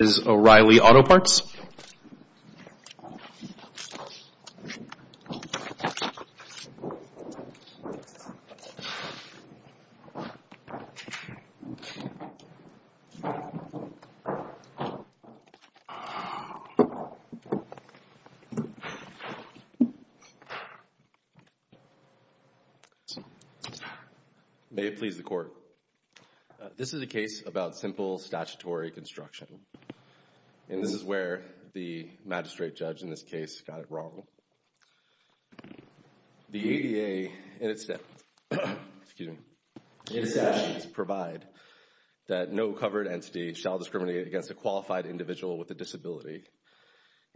May it please the Court, this is a case about simple statutory construction. And this is where the magistrate judge in this case got it wrong. The ADA in its actions provide that no covered entity shall discriminate against a qualified individual with a disability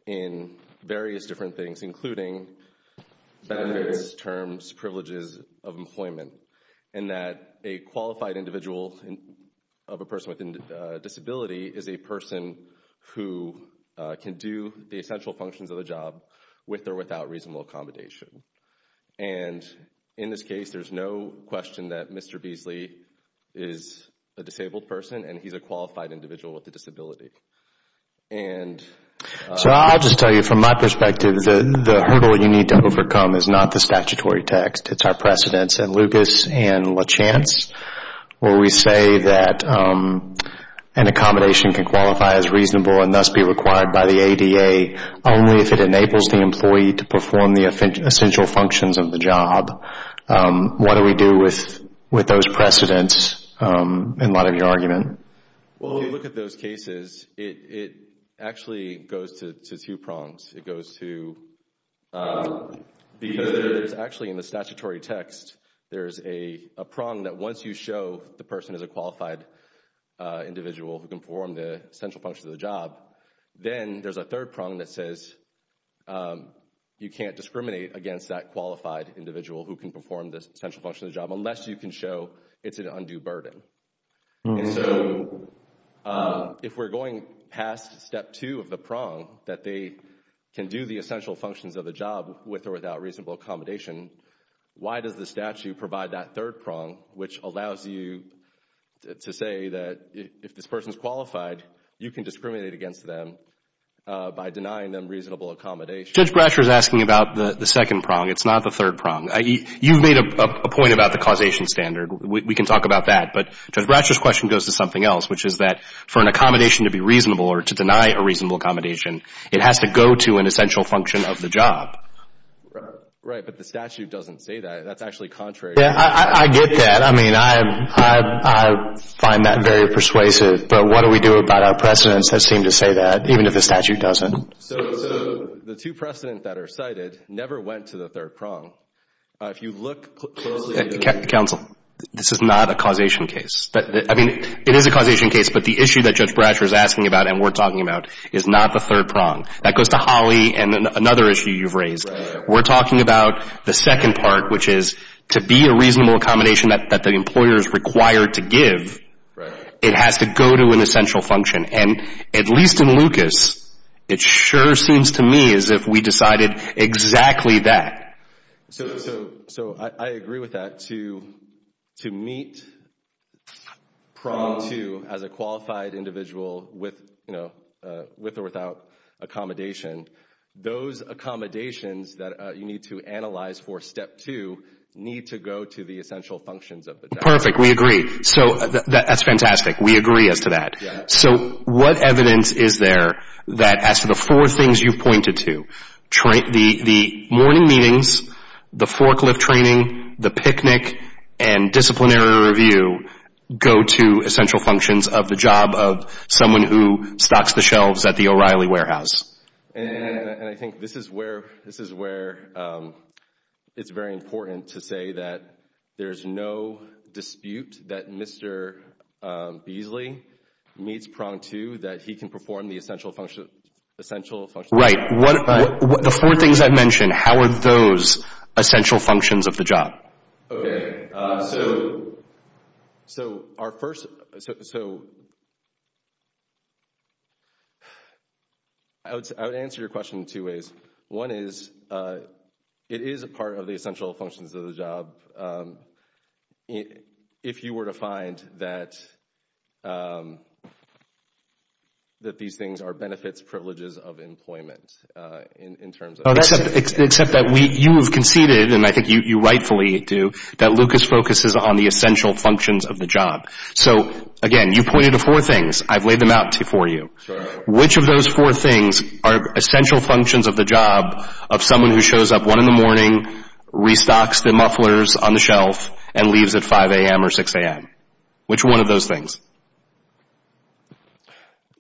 in various different things including benefits, terms, privileges of employment, and that a qualified individual of a person with a disability is a person who can do the essential functions of the job with or without reasonable accommodation. And in this case, there's no question that Mr. Beasley is a disabled person and he's a qualified individual with a disability. And so I'll just tell you from my perspective, the hurdle you need to overcome is not the precedence and Lucas and LaChance, where we say that an accommodation can qualify as reasonable and thus be required by the ADA only if it enables the employee to perform the essential functions of the job. What do we do with those precedents in light of your argument? Well, when you look at those cases, it actually goes to two prongs. It goes to, because there's actually in the statutory text, there's a prong that once you show the person is a qualified individual who can perform the essential functions of the job, then there's a third prong that says you can't discriminate against that qualified individual who can perform the essential functions of the job unless you can show it's an undue burden. And so if we're going past step two of the prong, that they can do the essential functions of the job with or without reasonable accommodation, why does the statute provide that third prong which allows you to say that if this person is qualified, you can discriminate against them by denying them reasonable accommodation? Judge Brasher is asking about the second prong. It's not the third prong. You've made a point about the causation standard. We can talk about that. But Judge Brasher's question goes to something else, which is that for an accommodation to be reasonable or to deny a reasonable accommodation, it has to go to an essential function of the job. Right, but the statute doesn't say that. That's actually contrary. Yeah, I get that. I mean, I find that very persuasive. But what do we do about our precedents that seem to say that, even if the statute doesn't? So the two precedents that are cited never went to the third prong. If you look closely at the... Counsel, this is not a causation case. I mean, it is a causation case, but the issue that Judge Brasher is asking about and we're talking about is not the third prong. That goes to Holly and another issue you've raised. We're talking about the second part, which is to be a reasonable accommodation that the employer is required to give, it has to go to an essential function. And at least in Lucas, it sure seems to me as if we decided exactly that. So I agree with that. To meet prong two as a qualified individual with or without accommodation, those accommodations that you need to analyze for step two need to go to the essential functions of the job. Perfect. We agree. That's fantastic. We agree as to that. So what evidence is there that as to the four things you pointed to, the morning meetings, the forklift training, the picnic, and disciplinary review go to essential functions of the job of someone who stocks the shelves at the O'Reilly Warehouse? And I think this is where it's very important to say that there's no dispute that Mr. Beasley meets prong two, that he can perform the essential functions of the job. Right. The four things I mentioned, how are those essential functions of the job? Okay. So our first, so I would answer your question in two ways. One is, it is a part of the essential functions of the job. If you were to find that these things are benefits, privileges of employment in terms of... Except that you have conceded, and I think you rightfully do, that Lucas focuses on the essential functions of the job. So again, you pointed to four things. I've laid them out for you. Which of those four things are essential functions of the job of someone who shows up one in the morning, restocks the mufflers on the shelf, and leaves at 5 a.m. or 6 a.m.? Which one of those things?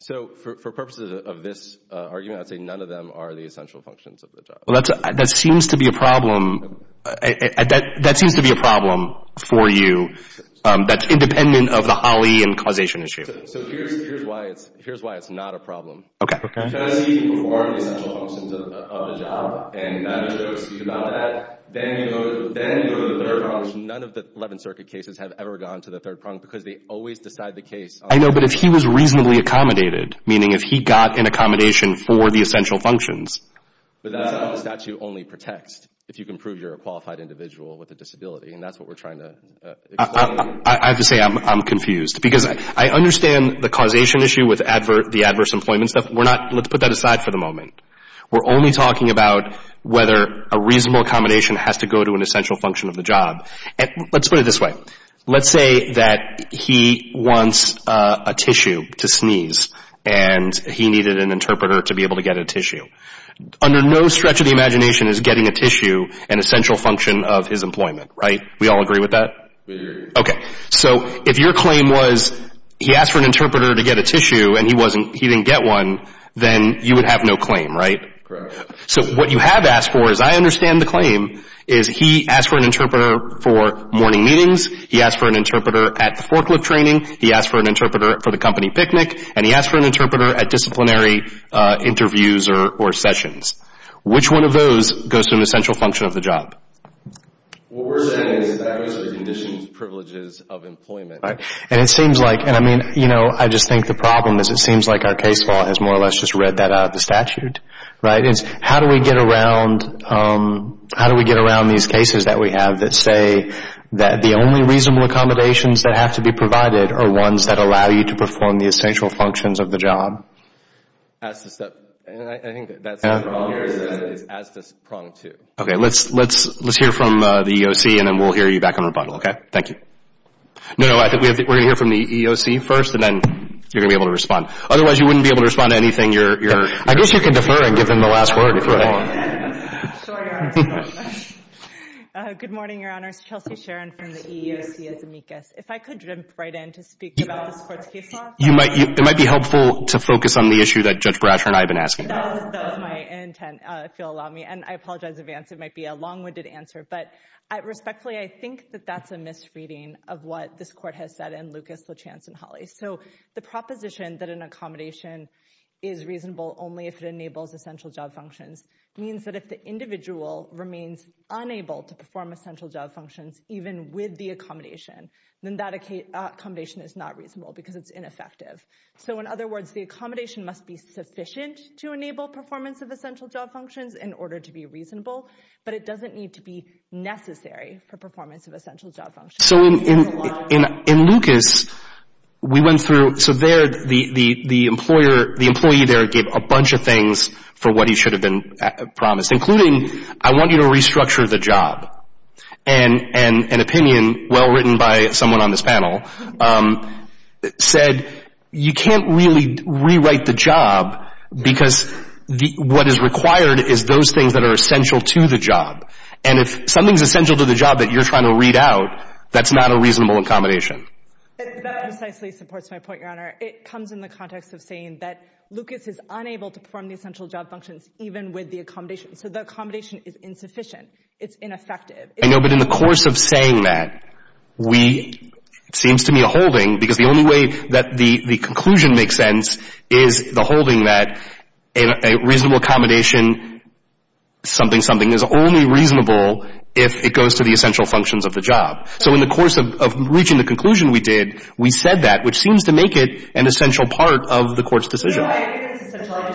So for purposes of this argument, I'd say none of them are the essential functions of the job. Well, that seems to be a problem. That seems to be a problem for you that's independent of the holly and causation issue. So here's why it's not a problem. If I see people who are the essential functions of the job, and I'm not going to speak about that, then you go to the third prong, which none of the Eleventh Circuit cases have ever gone to the third prong, because they always decide the case... I know, but if he was reasonably accommodated, meaning if he got an accommodation for the essential functions... But that's how the statute only protects, if you can prove you're a qualified individual with a disability. And that's what we're trying to explain. I have to say I'm confused, because I understand the causation issue with the adverse employment stuff. We're not... Let's put that aside for the moment. We're only talking about whether a reasonable accommodation has to go to an essential function of the job. And let's put it this way. Let's say that he wants a tissue to sneeze, and he needed an interpreter to be able to get a tissue. Under no stretch of the imagination is getting a tissue an essential function of his employment, right? We all agree with that? We agree. Okay. So if your claim was he asked for an interpreter to get a tissue, and he didn't get one, then you would have no claim, right? Correct. So what you have asked for, as I understand the claim, is he asked for an interpreter for morning meetings, he asked for an interpreter at the forklift training, he asked for an interpreter for the company picnic, and he asked for an interpreter at disciplinary interviews or sessions. Which one of those goes to an essential function of the job? What we're saying is that those are the conditions, privileges of employment. And it seems like, and I mean, you know, I just think the problem is it seems like our case law has more or less just read that out of the statute, right? How do we get around these cases that we have that say that the only reasonable accommodations that have to be provided are ones that allow you to perform the essential functions of the job? And I think that's the problem here is that it's as to prong to. Okay, let's hear from the EEOC, and then we'll hear you back on rebuttal, okay? Thank you. No, no, I think we're going to hear from the EEOC first, and then you're going to be able to respond. Otherwise, you wouldn't be able to respond to anything you're, I guess you can defer and give them the last word if you want. Good morning, Your Honor. It's Chelsea Sharon from the EEOC as amicus. If I could jump right in to speak about the sports case law. You might, it might be helpful to focus on the issue that Judge Bratcher and I have been asking about. That was my intent, if you'll allow me. And I apologize in advance. It might be a long-winded answer, but respectfully, I think that that's a misreading of what this court has said in Lucas, Lachance, and Hawley. So the proposition that an accommodation is reasonable only if it enables essential job functions means that if the individual remains unable to perform essential job functions even with the accommodation, then that accommodation is not reasonable because it's ineffective. So in other words, the accommodation must be sufficient to enable performance of essential job functions in order to be reasonable, but it doesn't need to be necessary for performance of essential job functions. So in Lucas, we went through, so there, the employer, the employee there gave a bunch of things for what he should have been promised, including, I want you to restructure the job. And an opinion well written by someone on this panel said you can't really rewrite the job because what is required is those things that are essential to the job. And if something is essential to the job that you're trying to read out, that's not a reasonable accommodation. That precisely supports my point, Your Honor. It comes in the context of saying that Lucas is unable to perform the essential job functions even with the accommodation. So the accommodation is insufficient. It's ineffective. I know, but in the course of saying that, we, it seems to me a holding, because the only way that the conclusion makes sense is the holding that a reasonable accommodation something, something is only reasonable if it goes to the essential functions of the job. So in the course of reaching the conclusion we did, we said that, which seems to make it an essential part of the Court's decision. No, I think it's essential. I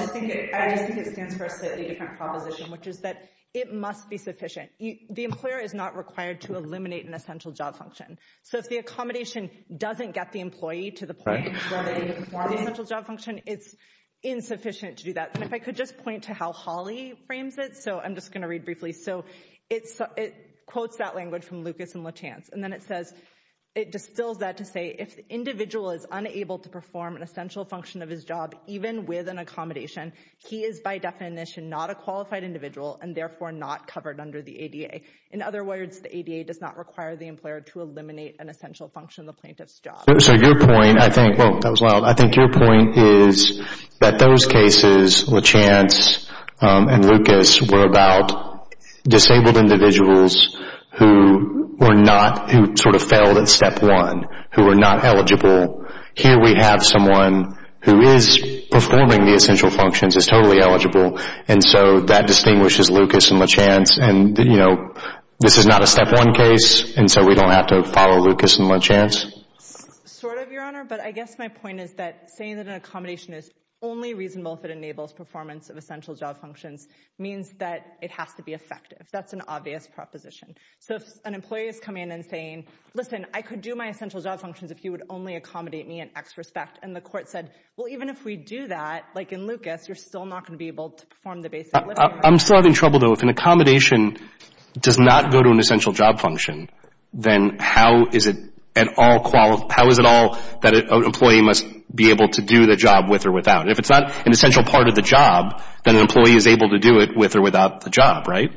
just think it stands for a slightly different proposition, which is that it must be sufficient. The employer is not required to eliminate an essential job function. So if the accommodation doesn't get the employee to the point where they perform the essential job function, it's insufficient to do that. And if I could just point to how Hawley frames it. So I'm just going to read briefly. So it quotes that language from Lucas and Lachance. And then it says, it distills that to say, if the individual is unable to perform an essential function of his job, even with an accommodation, he is by definition not a qualified individual and therefore not covered under the ADA. In other words, the ADA does not require the employer to eliminate an essential function of the plaintiff's job. So your point, I think, whoa, that was loud. I think your point is that those cases, Lachance and Lucas, were about disabled individuals who were not, who sort of failed at step one, who were not eligible. Here we have someone who is performing the essential functions, is totally eligible. And so that distinguishes Lucas and Lachance. And you know, this is not a step one case. And so we don't have to follow Lucas and Lachance. Sort of, Your Honor, but I guess my point is that saying that an accommodation is only reasonable if it enables performance of essential job functions means that it has to be effective. That's an obvious proposition. So if an employee is coming in and saying, listen, I could do my essential job functions if you would only accommodate me in X respect. And the court said, well, even if we do that, like in Lucas, you're still not going to be I'm still having trouble, though. If an accommodation does not go to an essential job function, then how is it at all, how is it all that an employee must be able to do the job with or without? If it's not an essential part of the job, then an employee is able to do it with or without the job, right?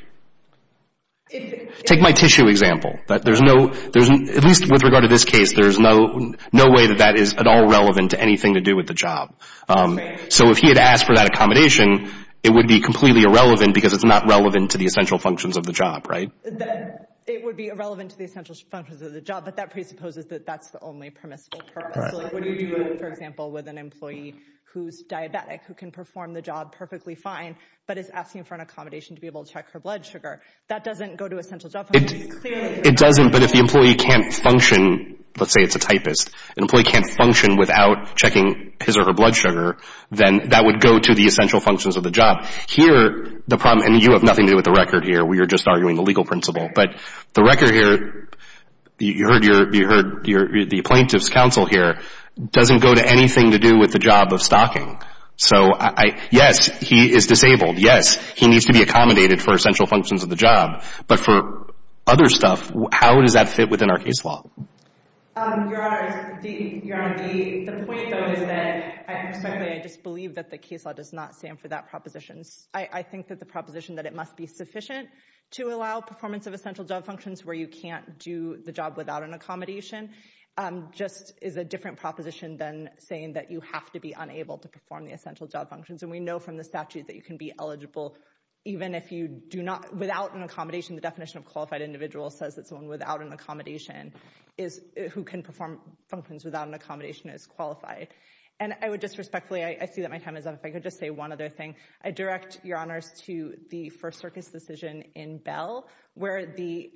Take my tissue example. There's no, at least with regard to this case, there's no way that that is at all relevant to anything to do with the job. So if he had asked for that accommodation, it would be completely irrelevant because it's not relevant to the essential functions of the job, right? It would be irrelevant to the essential functions of the job, but that presupposes that that's the only permissible purpose. So like, what do you do, for example, with an employee who's diabetic, who can perform the job perfectly fine, but is asking for an accommodation to be able to check her blood sugar? That doesn't go to essential job functions. It doesn't. But if the employee can't function, let's say it's a typist, an employee can't function without checking his or her blood sugar, then that would go to the essential functions of the job. Here, the problem, and you have nothing to do with the record here, we are just arguing the legal principle, but the record here, you heard the plaintiff's counsel here, doesn't go to anything to do with the job of stocking. So yes, he is disabled, yes, he needs to be accommodated for essential functions of the job, but for other stuff, how does that fit within our case law? Your Honor, the point, though, is that I just believe that the case law does not stand for that proposition. I think that the proposition that it must be sufficient to allow performance of essential job functions where you can't do the job without an accommodation just is a different proposition than saying that you have to be unable to perform the essential job functions. And we know from the statute that you can be eligible even if you do not, without an accommodation, who can perform functions without an accommodation is qualified. And I would just respectfully, I see that my time is up, if I could just say one other thing. I direct Your Honors to the First Circus decision in Bell, where the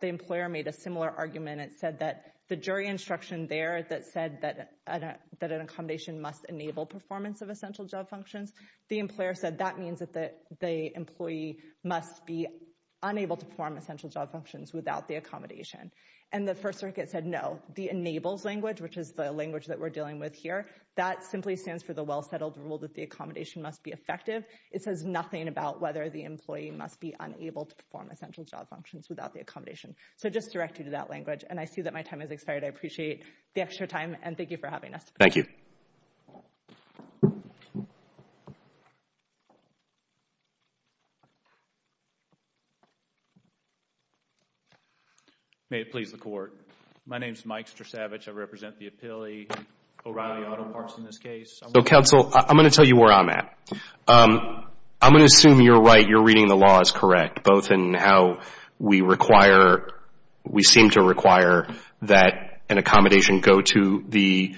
employer made a similar argument and said that the jury instruction there that said that an accommodation must enable performance of essential job functions, the employer said that means that the employee must be unable to perform essential job functions without the accommodation. And the First Circuit said no. The enables language, which is the language that we're dealing with here, that simply stands for the well-settled rule that the accommodation must be effective. It says nothing about whether the employee must be unable to perform essential job functions without the accommodation. So just direct you to that language. And I see that my time has expired. I appreciate the extra time and thank you for having us. Thank you. May it please the Court. My name is Mike Strasavage. I represent the Appealee O'Reilly Auto Parts in this case. So, counsel, I'm going to tell you where I'm at. I'm going to assume you're right, you're reading the law as correct, both in how we require, we seem to require that an accommodation go to the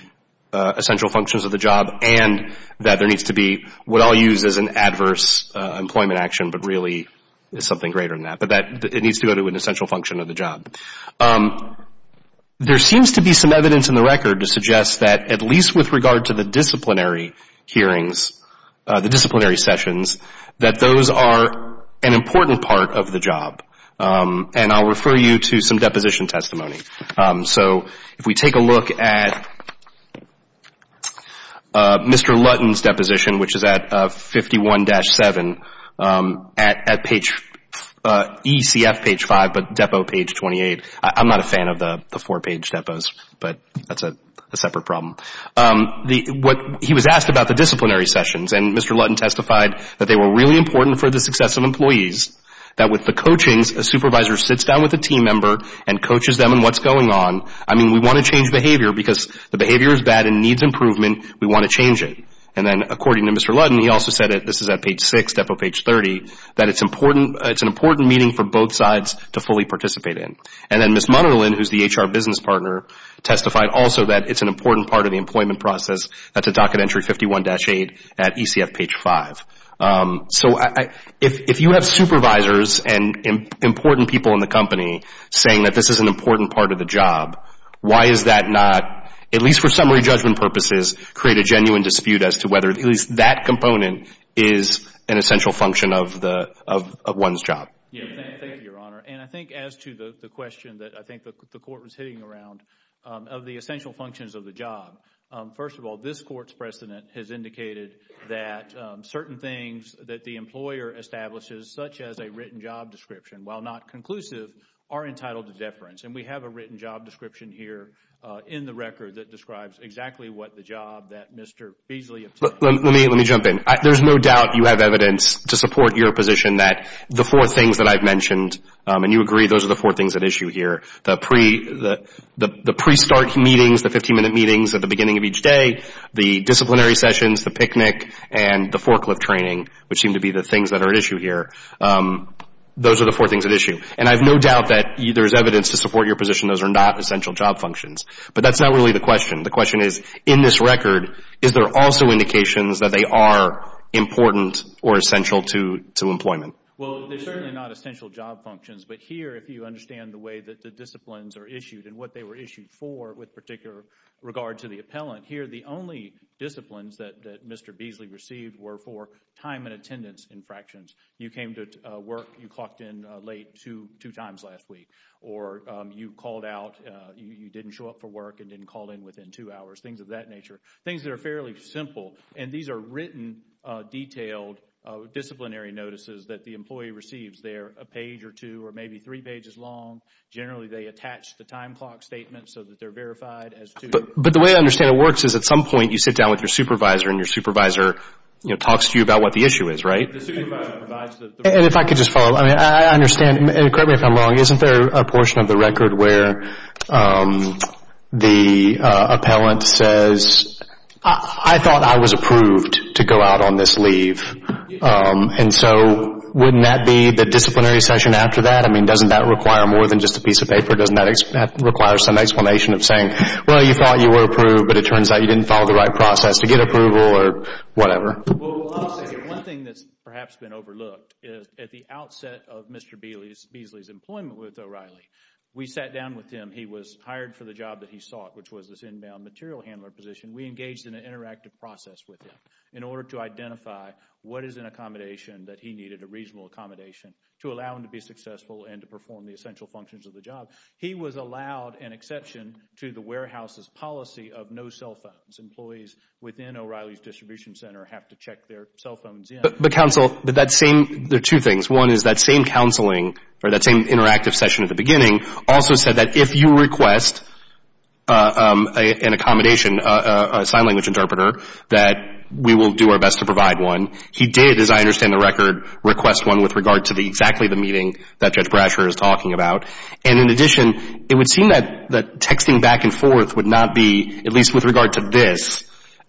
essential functions of the job and that there needs to be what I'll use as an adverse employment action, but really is something greater than that, but that it needs to go to an essential function of the job. There seems to be some evidence in the record to suggest that at least with regard to the disciplinary hearings, the disciplinary sessions, that those are an important part of the job. And I'll refer you to some deposition testimony. So, if we take a look at Mr. Lutton's deposition, which is at 51-7, at ECF page 5, but depo page 28. I'm not a fan of the four page depos, but that's a separate problem. He was asked about the disciplinary sessions and Mr. Lutton testified that they were really important for the success of employees, that with the coachings, a supervisor sits down with a team member and coaches them on what's going on. I mean, we want to change behavior because the behavior is bad and needs improvement. We want to change it. And then according to Mr. Lutton, he also said it, this is at page 6, depo page 30, that it's an important meeting for both sides to fully participate in. And then Ms. Munderlin, who's the HR business partner, testified also that it's an important part of the employment process. That's a docket entry 51-8 at ECF page 5. So if you have supervisors and important people in the company saying that this is an important part of the job, why is that not, at least for summary judgment purposes, create a genuine dispute as to whether at least that component is an essential function of one's job? Thank you, Your Honor. And I think as to the question that I think the court was hitting around of the essential things that the employer establishes, such as a written job description, while not conclusive, are entitled to deference. And we have a written job description here in the record that describes exactly what the job that Mr. Beasley obtained. Let me jump in. There's no doubt you have evidence to support your position that the four things that I've mentioned, and you agree those are the four things at issue here, the pre-start meetings, the 15-minute meetings at the beginning of each day, the disciplinary sessions, the picnic, and the forklift training, which seem to be the things that are at issue here. Those are the four things at issue. And I have no doubt that there's evidence to support your position those are not essential job functions. But that's not really the question. The question is, in this record, is there also indications that they are important or essential to employment? Well, they're certainly not essential job functions. But here, if you understand the way that the disciplines are issued and what they were issued for with particular regard to the appellant, here the only disciplines that Mr. Beasley received were for time and attendance infractions. You came to work, you clocked in late two times last week. Or you called out, you didn't show up for work and didn't call in within two hours. Things of that nature. Things that are fairly simple. And these are written, detailed disciplinary notices that the employee receives. They're a page or two or maybe three pages long. Generally they attach the time clock statement so that they're verified as to... But the way I understand it works is at some point you sit down with your supervisor and your supervisor talks to you about what the issue is, right? And if I could just follow up, I understand, correct me if I'm wrong, isn't there a portion of the record where the appellant says, I thought I was approved to go out on this leave. And so wouldn't that be the disciplinary session after that? I mean, doesn't that require more than just a piece of paper? Doesn't that require some explanation of saying, well, you thought you were approved but it Well, I'll say one thing that's perhaps been overlooked is at the outset of Mr. Beasley's employment with O'Reilly, we sat down with him. He was hired for the job that he sought, which was this inbound material handler position. We engaged in an interactive process with him in order to identify what is an accommodation that he needed, a reasonable accommodation, to allow him to be successful and to perform the essential functions of the job. He was allowed an exception to the warehouse's policy of no cell phones. Employees within O'Reilly's distribution center have to check their cell phones in. But counsel, there are two things. One is that same counseling, or that same interactive session at the beginning, also said that if you request an accommodation, a sign language interpreter, that we will do our best to provide one. He did, as I understand the record, request one with regard to exactly the meeting that Judge Brasher is talking about. And in addition, it would seem that texting back and forth would not be, at least with this,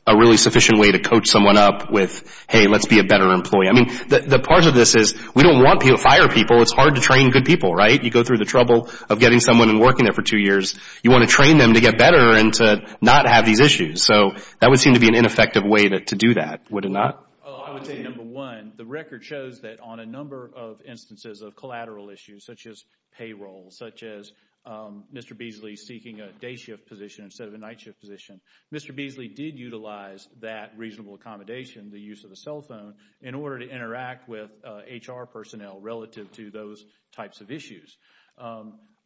a really sufficient way to coach someone up with, hey, let's be a better employee. I mean, the part of this is we don't want to fire people. It's hard to train good people, right? You go through the trouble of getting someone and working there for two years. You want to train them to get better and to not have these issues. So that would seem to be an ineffective way to do that, would it not? I would say, number one, the record shows that on a number of instances of collateral issues such as payroll, such as Mr. Beasley seeking a day shift position instead of a night shift position, Mr. Beasley did utilize that reasonable accommodation, the use of a cell phone, in order to interact with HR personnel relative to those types of issues.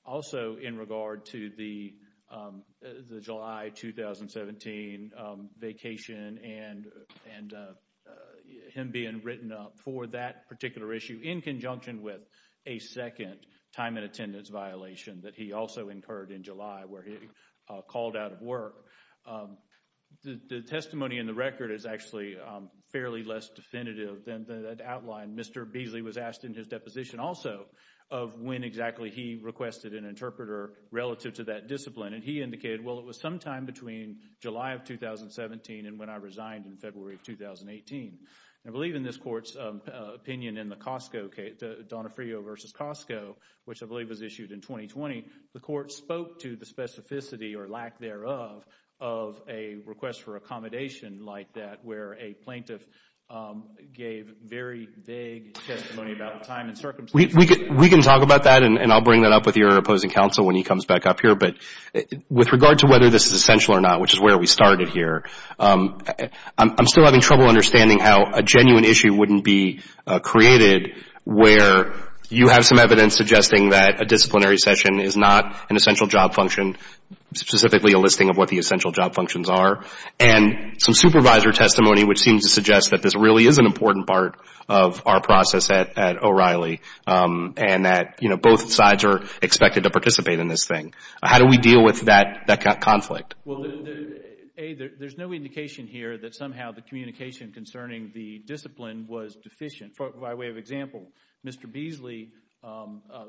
Also in regard to the July 2017 vacation and him being written up for that particular issue in conjunction with a second time and attendance violation that he also incurred in July where he called out of work, the testimony in the record is actually fairly less definitive than the outline Mr. Beasley was asked in his deposition also of when exactly he requested an interpreter relative to that discipline. And he indicated, well, it was sometime between July of 2017 and when I resigned in February of 2018. I believe in this Court's opinion in the Donofrio v. Costco, which I believe was issued in 2020, the Court spoke to the specificity or lack thereof of a request for accommodation like that where a plaintiff gave very vague testimony about the time and circumstances. We can talk about that and I'll bring that up with your opposing counsel when he comes back up here. But with regard to whether this is essential or not, which is where we started here, I'm still having trouble understanding how a genuine issue wouldn't be created where you have some not an essential job function, specifically a listing of what the essential job functions are, and some supervisor testimony which seems to suggest that this really is an important part of our process at O'Reilly and that both sides are expected to participate in this thing. How do we deal with that conflict? Well, A, there's no indication here that somehow the communication concerning the discipline was deficient. By way of example, Mr. Beasley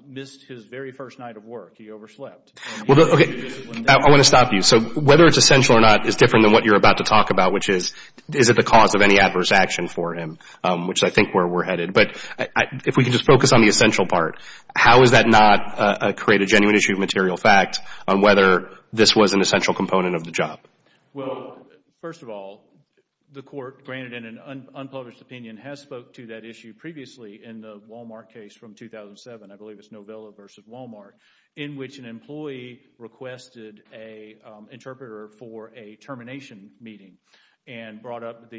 missed his very first night of work. He overslept. Okay. I want to stop you. So whether it's essential or not is different than what you're about to talk about, which is is it the cause of any adverse action for him, which I think where we're headed. But if we can just focus on the essential part, how is that not create a genuine issue of material fact on whether this was an essential component of the job? Well, first of all, the court, granted in an unpublished opinion, has spoke to that issue previously in the Walmart case from 2007, I believe it's Novello versus Walmart, in which an employee requested an interpreter for a termination meeting and brought up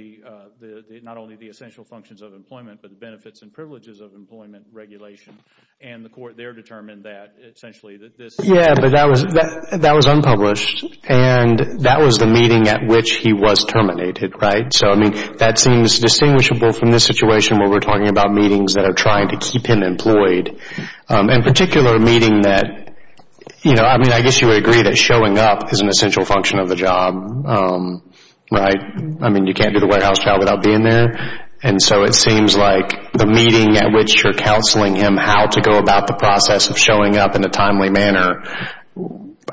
not only the essential functions of employment, but the benefits and privileges of employment regulation. And the court there determined that essentially that this... Yeah, but that was unpublished. And that was the meeting at which he was terminated, right? So I mean, that seems distinguishable from this situation where we're talking about meetings that are trying to keep him employed, in particular meeting that, you know, I mean, I guess you would agree that showing up is an essential function of the job, right? I mean, you can't do the warehouse job without being there. And so it seems like the meeting at which you're counseling him how to go about the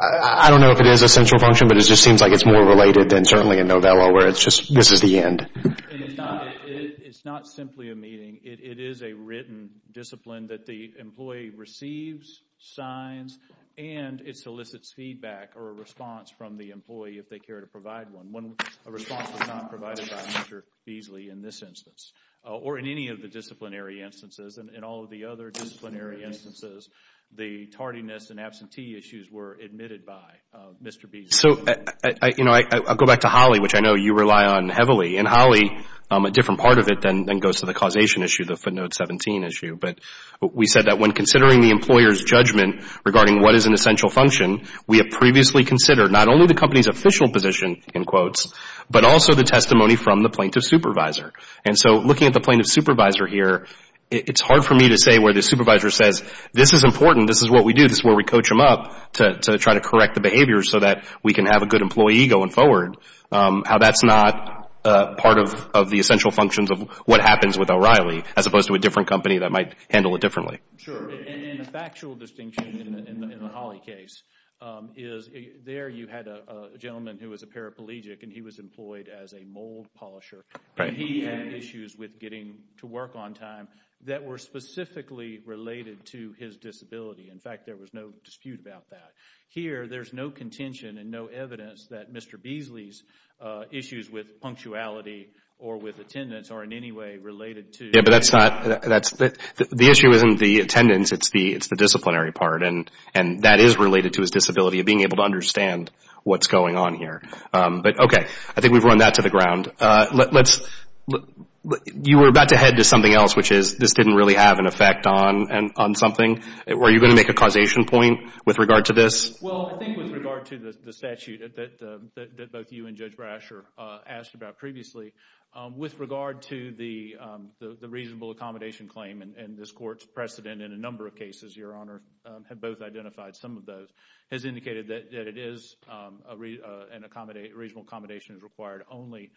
I don't know if it is a central function, but it just seems like it's more related than certainly in Novello, where it's just, this is the end. It's not simply a meeting, it is a written discipline that the employee receives signs and it solicits feedback or a response from the employee if they care to provide one. When a response was not provided by Mr. Beasley in this instance, or in any of the disciplinary instances, the tardiness and absentee issues were admitted by Mr. Beasley. So, you know, I'll go back to Holly, which I know you rely on heavily. And Holly, a different part of it than goes to the causation issue, the footnote 17 issue. But we said that when considering the employer's judgment regarding what is an essential function, we have previously considered not only the company's official position, in quotes, but also the testimony from the plaintiff's supervisor. And so looking at the plaintiff's supervisor here, it's hard for me to say where the supervisor says this is important, this is what we do, this is where we coach him up to try to correct the behavior so that we can have a good employee going forward. How that's not part of the essential functions of what happens with O'Reilly, as opposed to a different company that might handle it differently. Sure. And a factual distinction in the Holly case is there you had a gentleman who was a paraplegic and he was employed as a mold polisher. Right. And he had issues with getting to work on time that were specifically related to his disability. In fact, there was no dispute about that. Here there's no contention and no evidence that Mr. Beasley's issues with punctuality or with attendance are in any way related to... Yeah, but that's not... The issue isn't the attendance, it's the disciplinary part. And that is related to his disability of being able to understand what's going on here. But, okay. I think we've run that to the ground. You were about to head to something else, which is this didn't really have an effect on something. Were you going to make a causation point with regard to this? Well, I think with regard to the statute that both you and Judge Brasher asked about previously, with regard to the reasonable accommodation claim, and this court's precedent in a number of cases, Your Honor, have both identified some of those, has indicated that it is... Reasonable accommodation is required only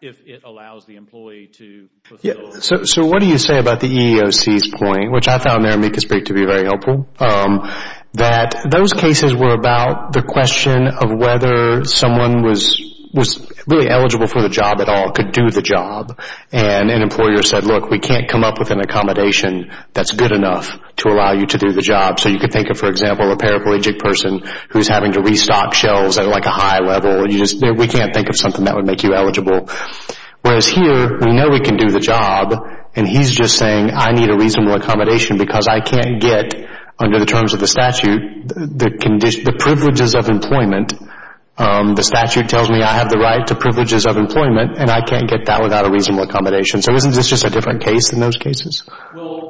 if it allows the employee to fulfill... Yeah. So what do you say about the EEOC's point, which I found their amicus brief to be very helpful, that those cases were about the question of whether someone was really eligible for the job at all, could do the job, and an employer said, look, we can't come up with an accommodation that's good enough to allow you to do the job. So you could think of, for example, a paraplegic person who's having to restock shelves at a high level. We can't think of something that would make you eligible. Whereas here, we know we can do the job, and he's just saying, I need a reasonable accommodation because I can't get, under the terms of the statute, the privileges of employment. The statute tells me I have the right to privileges of employment, and I can't get that without a reasonable accommodation. So isn't this just a different case than those cases? Well,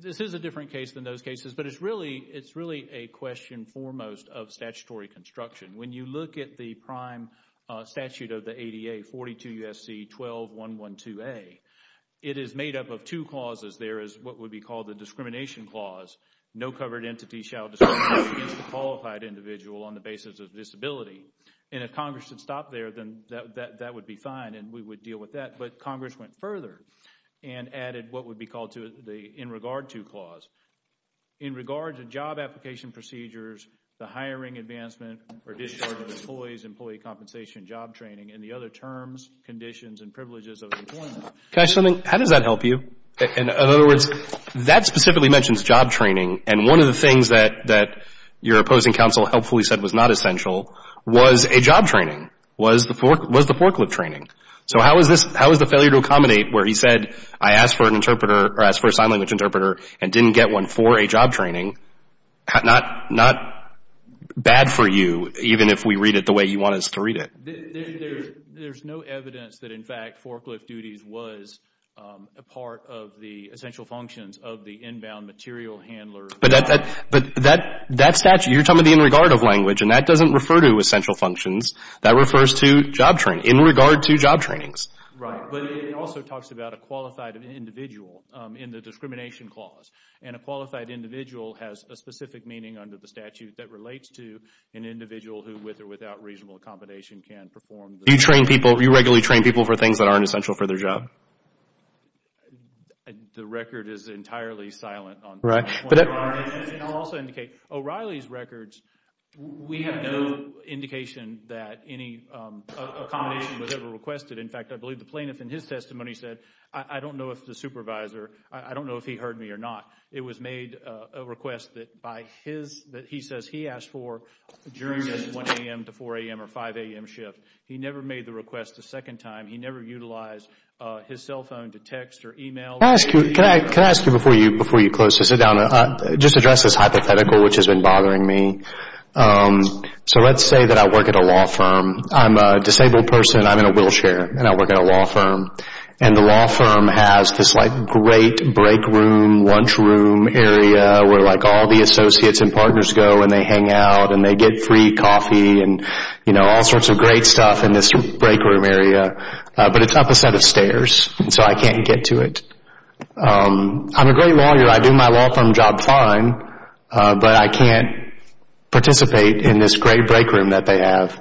this is a different case than those cases, but it's really a question foremost of statutory construction. When you look at the prime statute of the ADA, 42 U.S.C. 12.112a, it is made up of two clauses. There is what would be called the discrimination clause, no covered entity shall discriminate against a qualified individual on the basis of disability, and if Congress had stopped there, then that would be fine, and we would deal with that, but Congress went further and added what would be called the in regard to clause. In regard to job application procedures, the hiring advancement or discharge of employees, employee compensation, job training, and the other terms, conditions, and privileges of employment. Can I say something? How does that help you? In other words, that specifically mentions job training, and one of the things that your opposing counsel helpfully said was not essential was a job training, was the forklift training. So how is the failure to accommodate where he said, I asked for a sign language interpreter and didn't get one for a job training, not bad for you, even if we read it the way you want us to read it? There's no evidence that, in fact, forklift duties was a part of the essential functions of the inbound material handler. But that statute, you're talking about the in regard of language, and that doesn't refer to essential functions. That refers to job training, in regard to job trainings. Right, but it also talks about a qualified individual in the discrimination clause, and a qualified individual has a specific meaning under the statute that relates to an individual who, with or without reasonable accommodation, can perform the job training. You regularly train people for things that aren't essential for their job? The record is entirely silent on that. Right. And I'll also indicate, O'Reilly's records, we have no indication that any accommodation was ever requested. In fact, I believe the plaintiff in his testimony said, I don't know if the supervisor, I don't know if he heard me or not. It was made a request that by his, that he says he asked for during the 1 a.m. to 4 a.m. or 5 a.m. shift. He never made the request a second time. He never utilized his cell phone to text or email. Can I ask you, can I ask you before you close to sit down, just address this hypothetical which has been bothering me. So let's say that I work at a law firm. I'm a disabled person. I'm in a wheelchair and I work at a law firm. And the law firm has this like great break room, lunch room area where like all the associates and partners go and they hang out and they get free coffee and, you know, all sorts of great stuff in this break room area, but it's up a set of stairs and so I can't get to it. I'm a great lawyer. I do my law firm job fine, but I can't participate in this great break room that they have.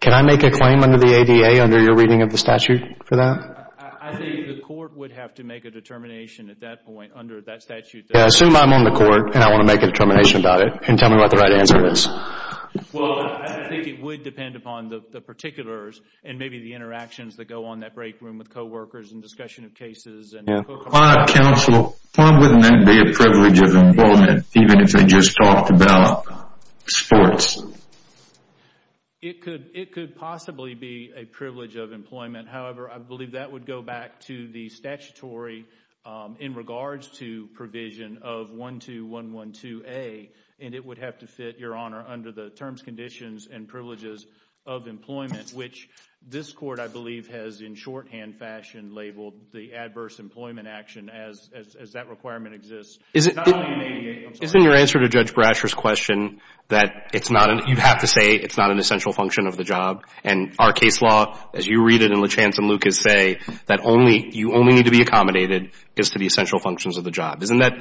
Can I make a claim under the ADA, under your reading of the statute for that? I think the court would have to make a determination at that point under that statute. Assume I'm on the court and I want to make a determination about it and tell me what the right answer is. Well, I think it would depend upon the particulars and maybe the interactions that go on that break room with co-workers and discussion of cases and... My counsel, why wouldn't that be a privilege of employment even if they just talked about sports? It could possibly be a privilege of employment. However, I believe that would go back to the statutory in regards to provision of 12112A and it would have to fit, your Honor, under the terms, conditions and privileges of employment which this court, I believe, has in shorthand fashion labeled the adverse employment action as that requirement exists. Not only in ADA, isn't your answer to Judge Brasher's question that you have to say it's not an essential function of the job and our case law, as you read it in Lachance and Lucas, say that you only need to be accommodated as to the essential functions of the job. Doesn't that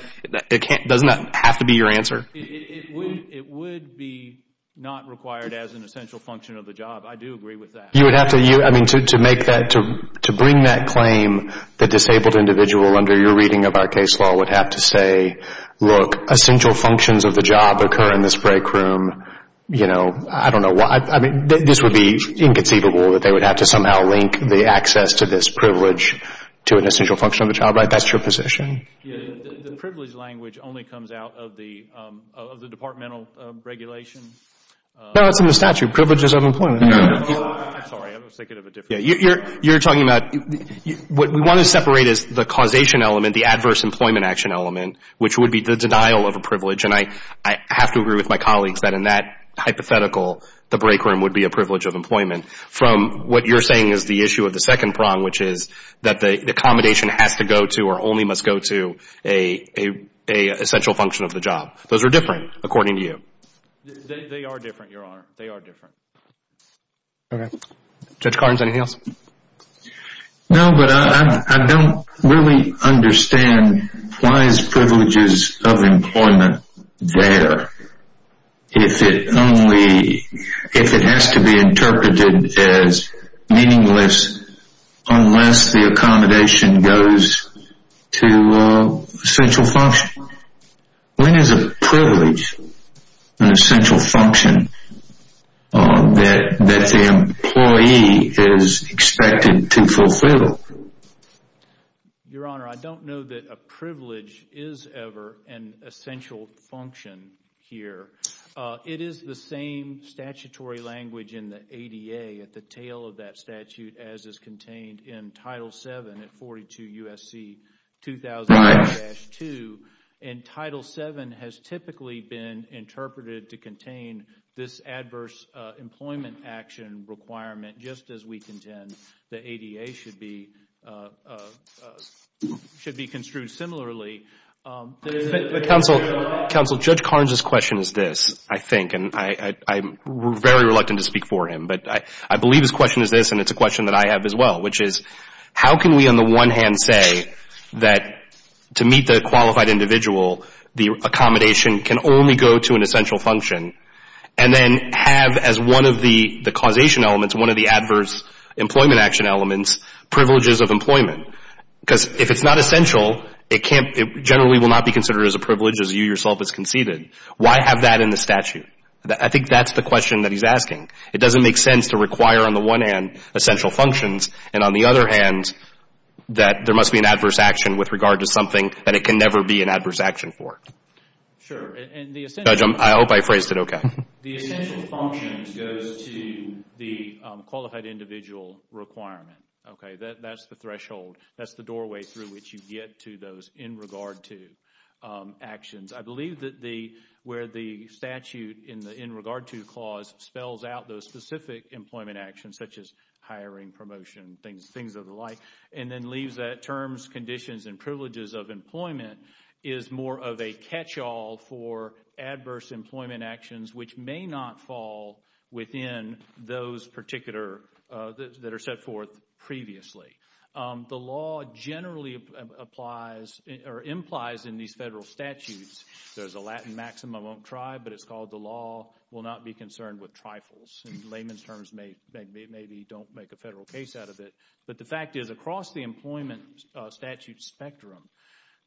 have to be your answer? It would be not required as an essential function of the job. I do agree with that. You would have to, I mean, to bring that claim, the disabled individual under your reading of our case law would have to say, look, essential functions of the job occur in this break room. You know, I don't know why, I mean, this would be inconceivable that they would have to somehow link the access to this privilege to an essential function of the job. That's your position. The privilege language only comes out of the departmental regulation. No, it's in the statute, privileges of employment. I'm sorry. I was thinking of a different thing. You're talking about, what we want to separate is the causation element, the adverse employment action element, which would be the denial of a privilege. And I have to agree with my colleagues that in that hypothetical, the break room would be a privilege of employment. From what you're saying is the issue of the second prong, which is that the accommodation has to go to or only must go to a essential function of the job. Those are different, according to you. They are different, Your Honor. They are different. Okay. Judge Carnes, anything else? No, but I don't really understand why is privileges of employment there if it only, if it has to be interpreted as meaningless unless the accommodation goes to an essential function? When is a privilege an essential function that the employee is expected to fulfill? Your Honor, I don't know that a privilege is ever an essential function here. It is the same statutory language in the ADA at the tail of that statute as is contained in Title VII at 42 U.S.C. 2000-2. And Title VII has typically been interpreted to contain this adverse employment action requirement just as we contend the ADA should be construed similarly. But counsel, Judge Carnes' question is this, I think, and I'm very reluctant to speak for him. But I believe his question is this, and it's a question that I have as well, which is how can we on the one hand say that to meet the qualified individual, the accommodation can only go to an essential function, and then have as one of the causation elements, one of the adverse employment action elements, privileges of employment? Because if it's not essential, it generally will not be considered as a privilege as you yourself have conceded. Why have that in the statute? I think that's the question that he's asking. It doesn't make sense to require on the one hand essential functions, and on the other hand that there must be an adverse action with regard to something that it can never be an adverse action for. Sure. And the essential... Judge, I hope I phrased it okay. The essential function goes to the qualified individual requirement. Okay? That's the threshold. That's the doorway through which you get to those in regard to actions. I believe that where the statute in regard to the clause spells out those specific employment actions, such as hiring, promotion, things of the like, and then leaves that terms, conditions, and privileges of employment is more of a catch-all for adverse employment actions which may not fall within those particular that are set forth previously. The law generally implies in these federal statutes, there's a Latin maxim, I won't try, but it's called the law will not be concerned with trifles. Layman's terms maybe don't make a federal case out of it. But the fact is across the employment statute spectrum,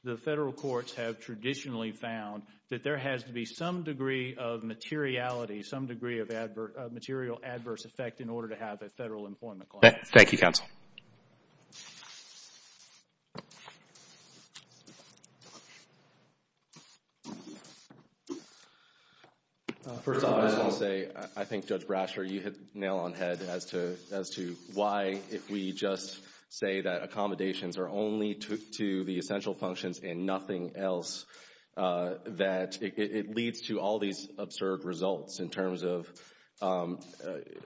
the federal courts have traditionally found that there has to be some degree of materiality, some degree of material adverse effect in order to have a federal employment clause. Thank you, counsel. First of all, I just want to say, I think Judge Brasher, you hit the nail on head as to why if we just say that accommodations are only to the essential functions and nothing else, that it leads to all these absurd results in terms of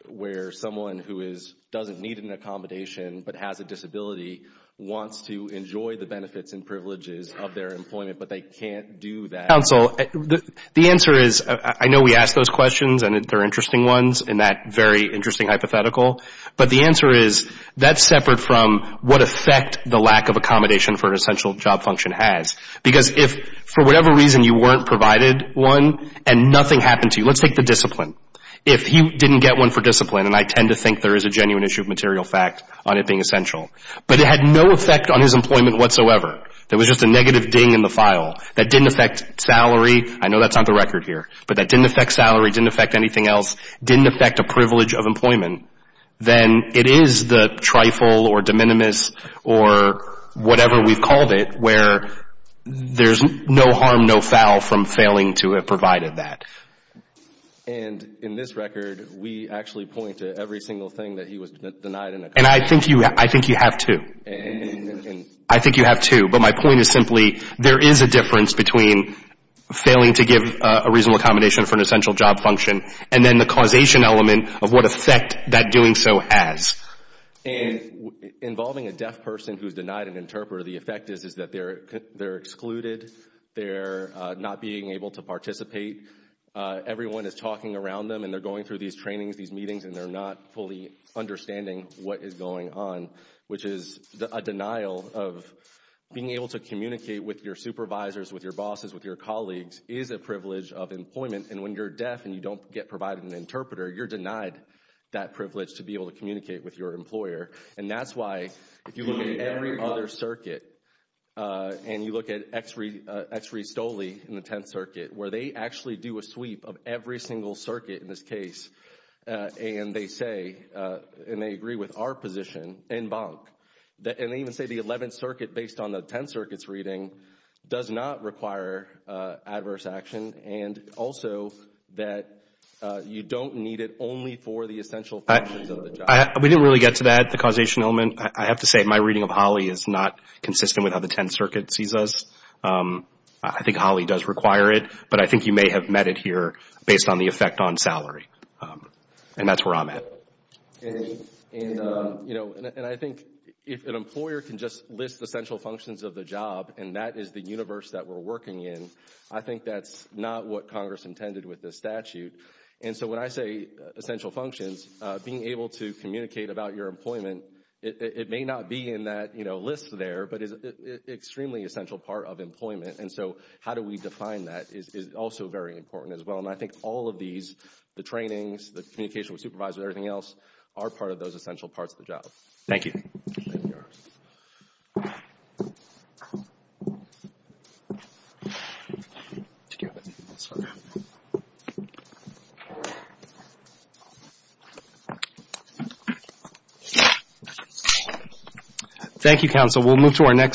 where someone who doesn't need an accommodation but has a disability wants to enjoy the benefits and privileges of their employment but they can't do that. Counsel, the answer is, I know we ask those questions and they're interesting ones in that very interesting hypothetical, but the answer is that's separate from what effect the lack of accommodation for an essential job function has. Because if for whatever reason you weren't provided one and nothing happened to you, let's take the discipline. If he didn't get one for discipline, and I tend to think there is a genuine issue of material fact on it being essential, but it had no effect on his employment whatsoever, there was just a negative ding in the file, that didn't affect salary, I know that's on the record here, but that didn't affect salary, didn't affect anything else, didn't affect a privilege of employment, then it is the trifle or de minimis or whatever we've called it where there's no harm, no foul from failing to have provided that. And in this record, we actually point to every single thing that he was denied an accommodation. And I think you have two. I think you have two. But my point is simply, there is a difference between failing to give a reasonable accommodation for an essential job function and then the causation element of what effect that doing so has. And involving a deaf person who's denied an interpreter, the effect is that they're excluded, they're not being able to participate, everyone is talking around them and they're going through these trainings, these meetings, and they're not fully understanding what is going on, which is a denial of being able to communicate with your supervisors, with your bosses, with your colleagues, is a privilege of employment. And when you're deaf and you don't get provided an interpreter, you're denied that privilege to be able to communicate with your employer. And that's why, if you look at every other circuit, and you look at Ex Re Stoli in the Tenth Circuit, where they actually do a sweep of every single circuit in this case, and they say, and they agree with our position, en banc, and they even say the Eleventh Circuit, based on the Tenth Circuit's reading, does not require adverse action, and also that you don't need it only for the essential functions of the job. We didn't really get to that, the causation element. I have to say my reading of Holly is not consistent with how the Tenth Circuit sees us. I think Holly does require it, but I think you may have met it here based on the effect on salary. And that's where I'm at. Okay. And, you know, and I think if an employer can just list the essential functions of the job and that is the universe that we're working in, I think that's not what Congress intended with this statute. And so when I say essential functions, being able to communicate about your employment, it may not be in that, you know, list there, but it's an extremely essential part of employment, and so how do we define that is also very important as well, and I think all of these, the trainings, the communication with supervisors, everything else, are part of those essential parts of the job. Thank you. Thank you. Thank you, counsel. We'll move to our next.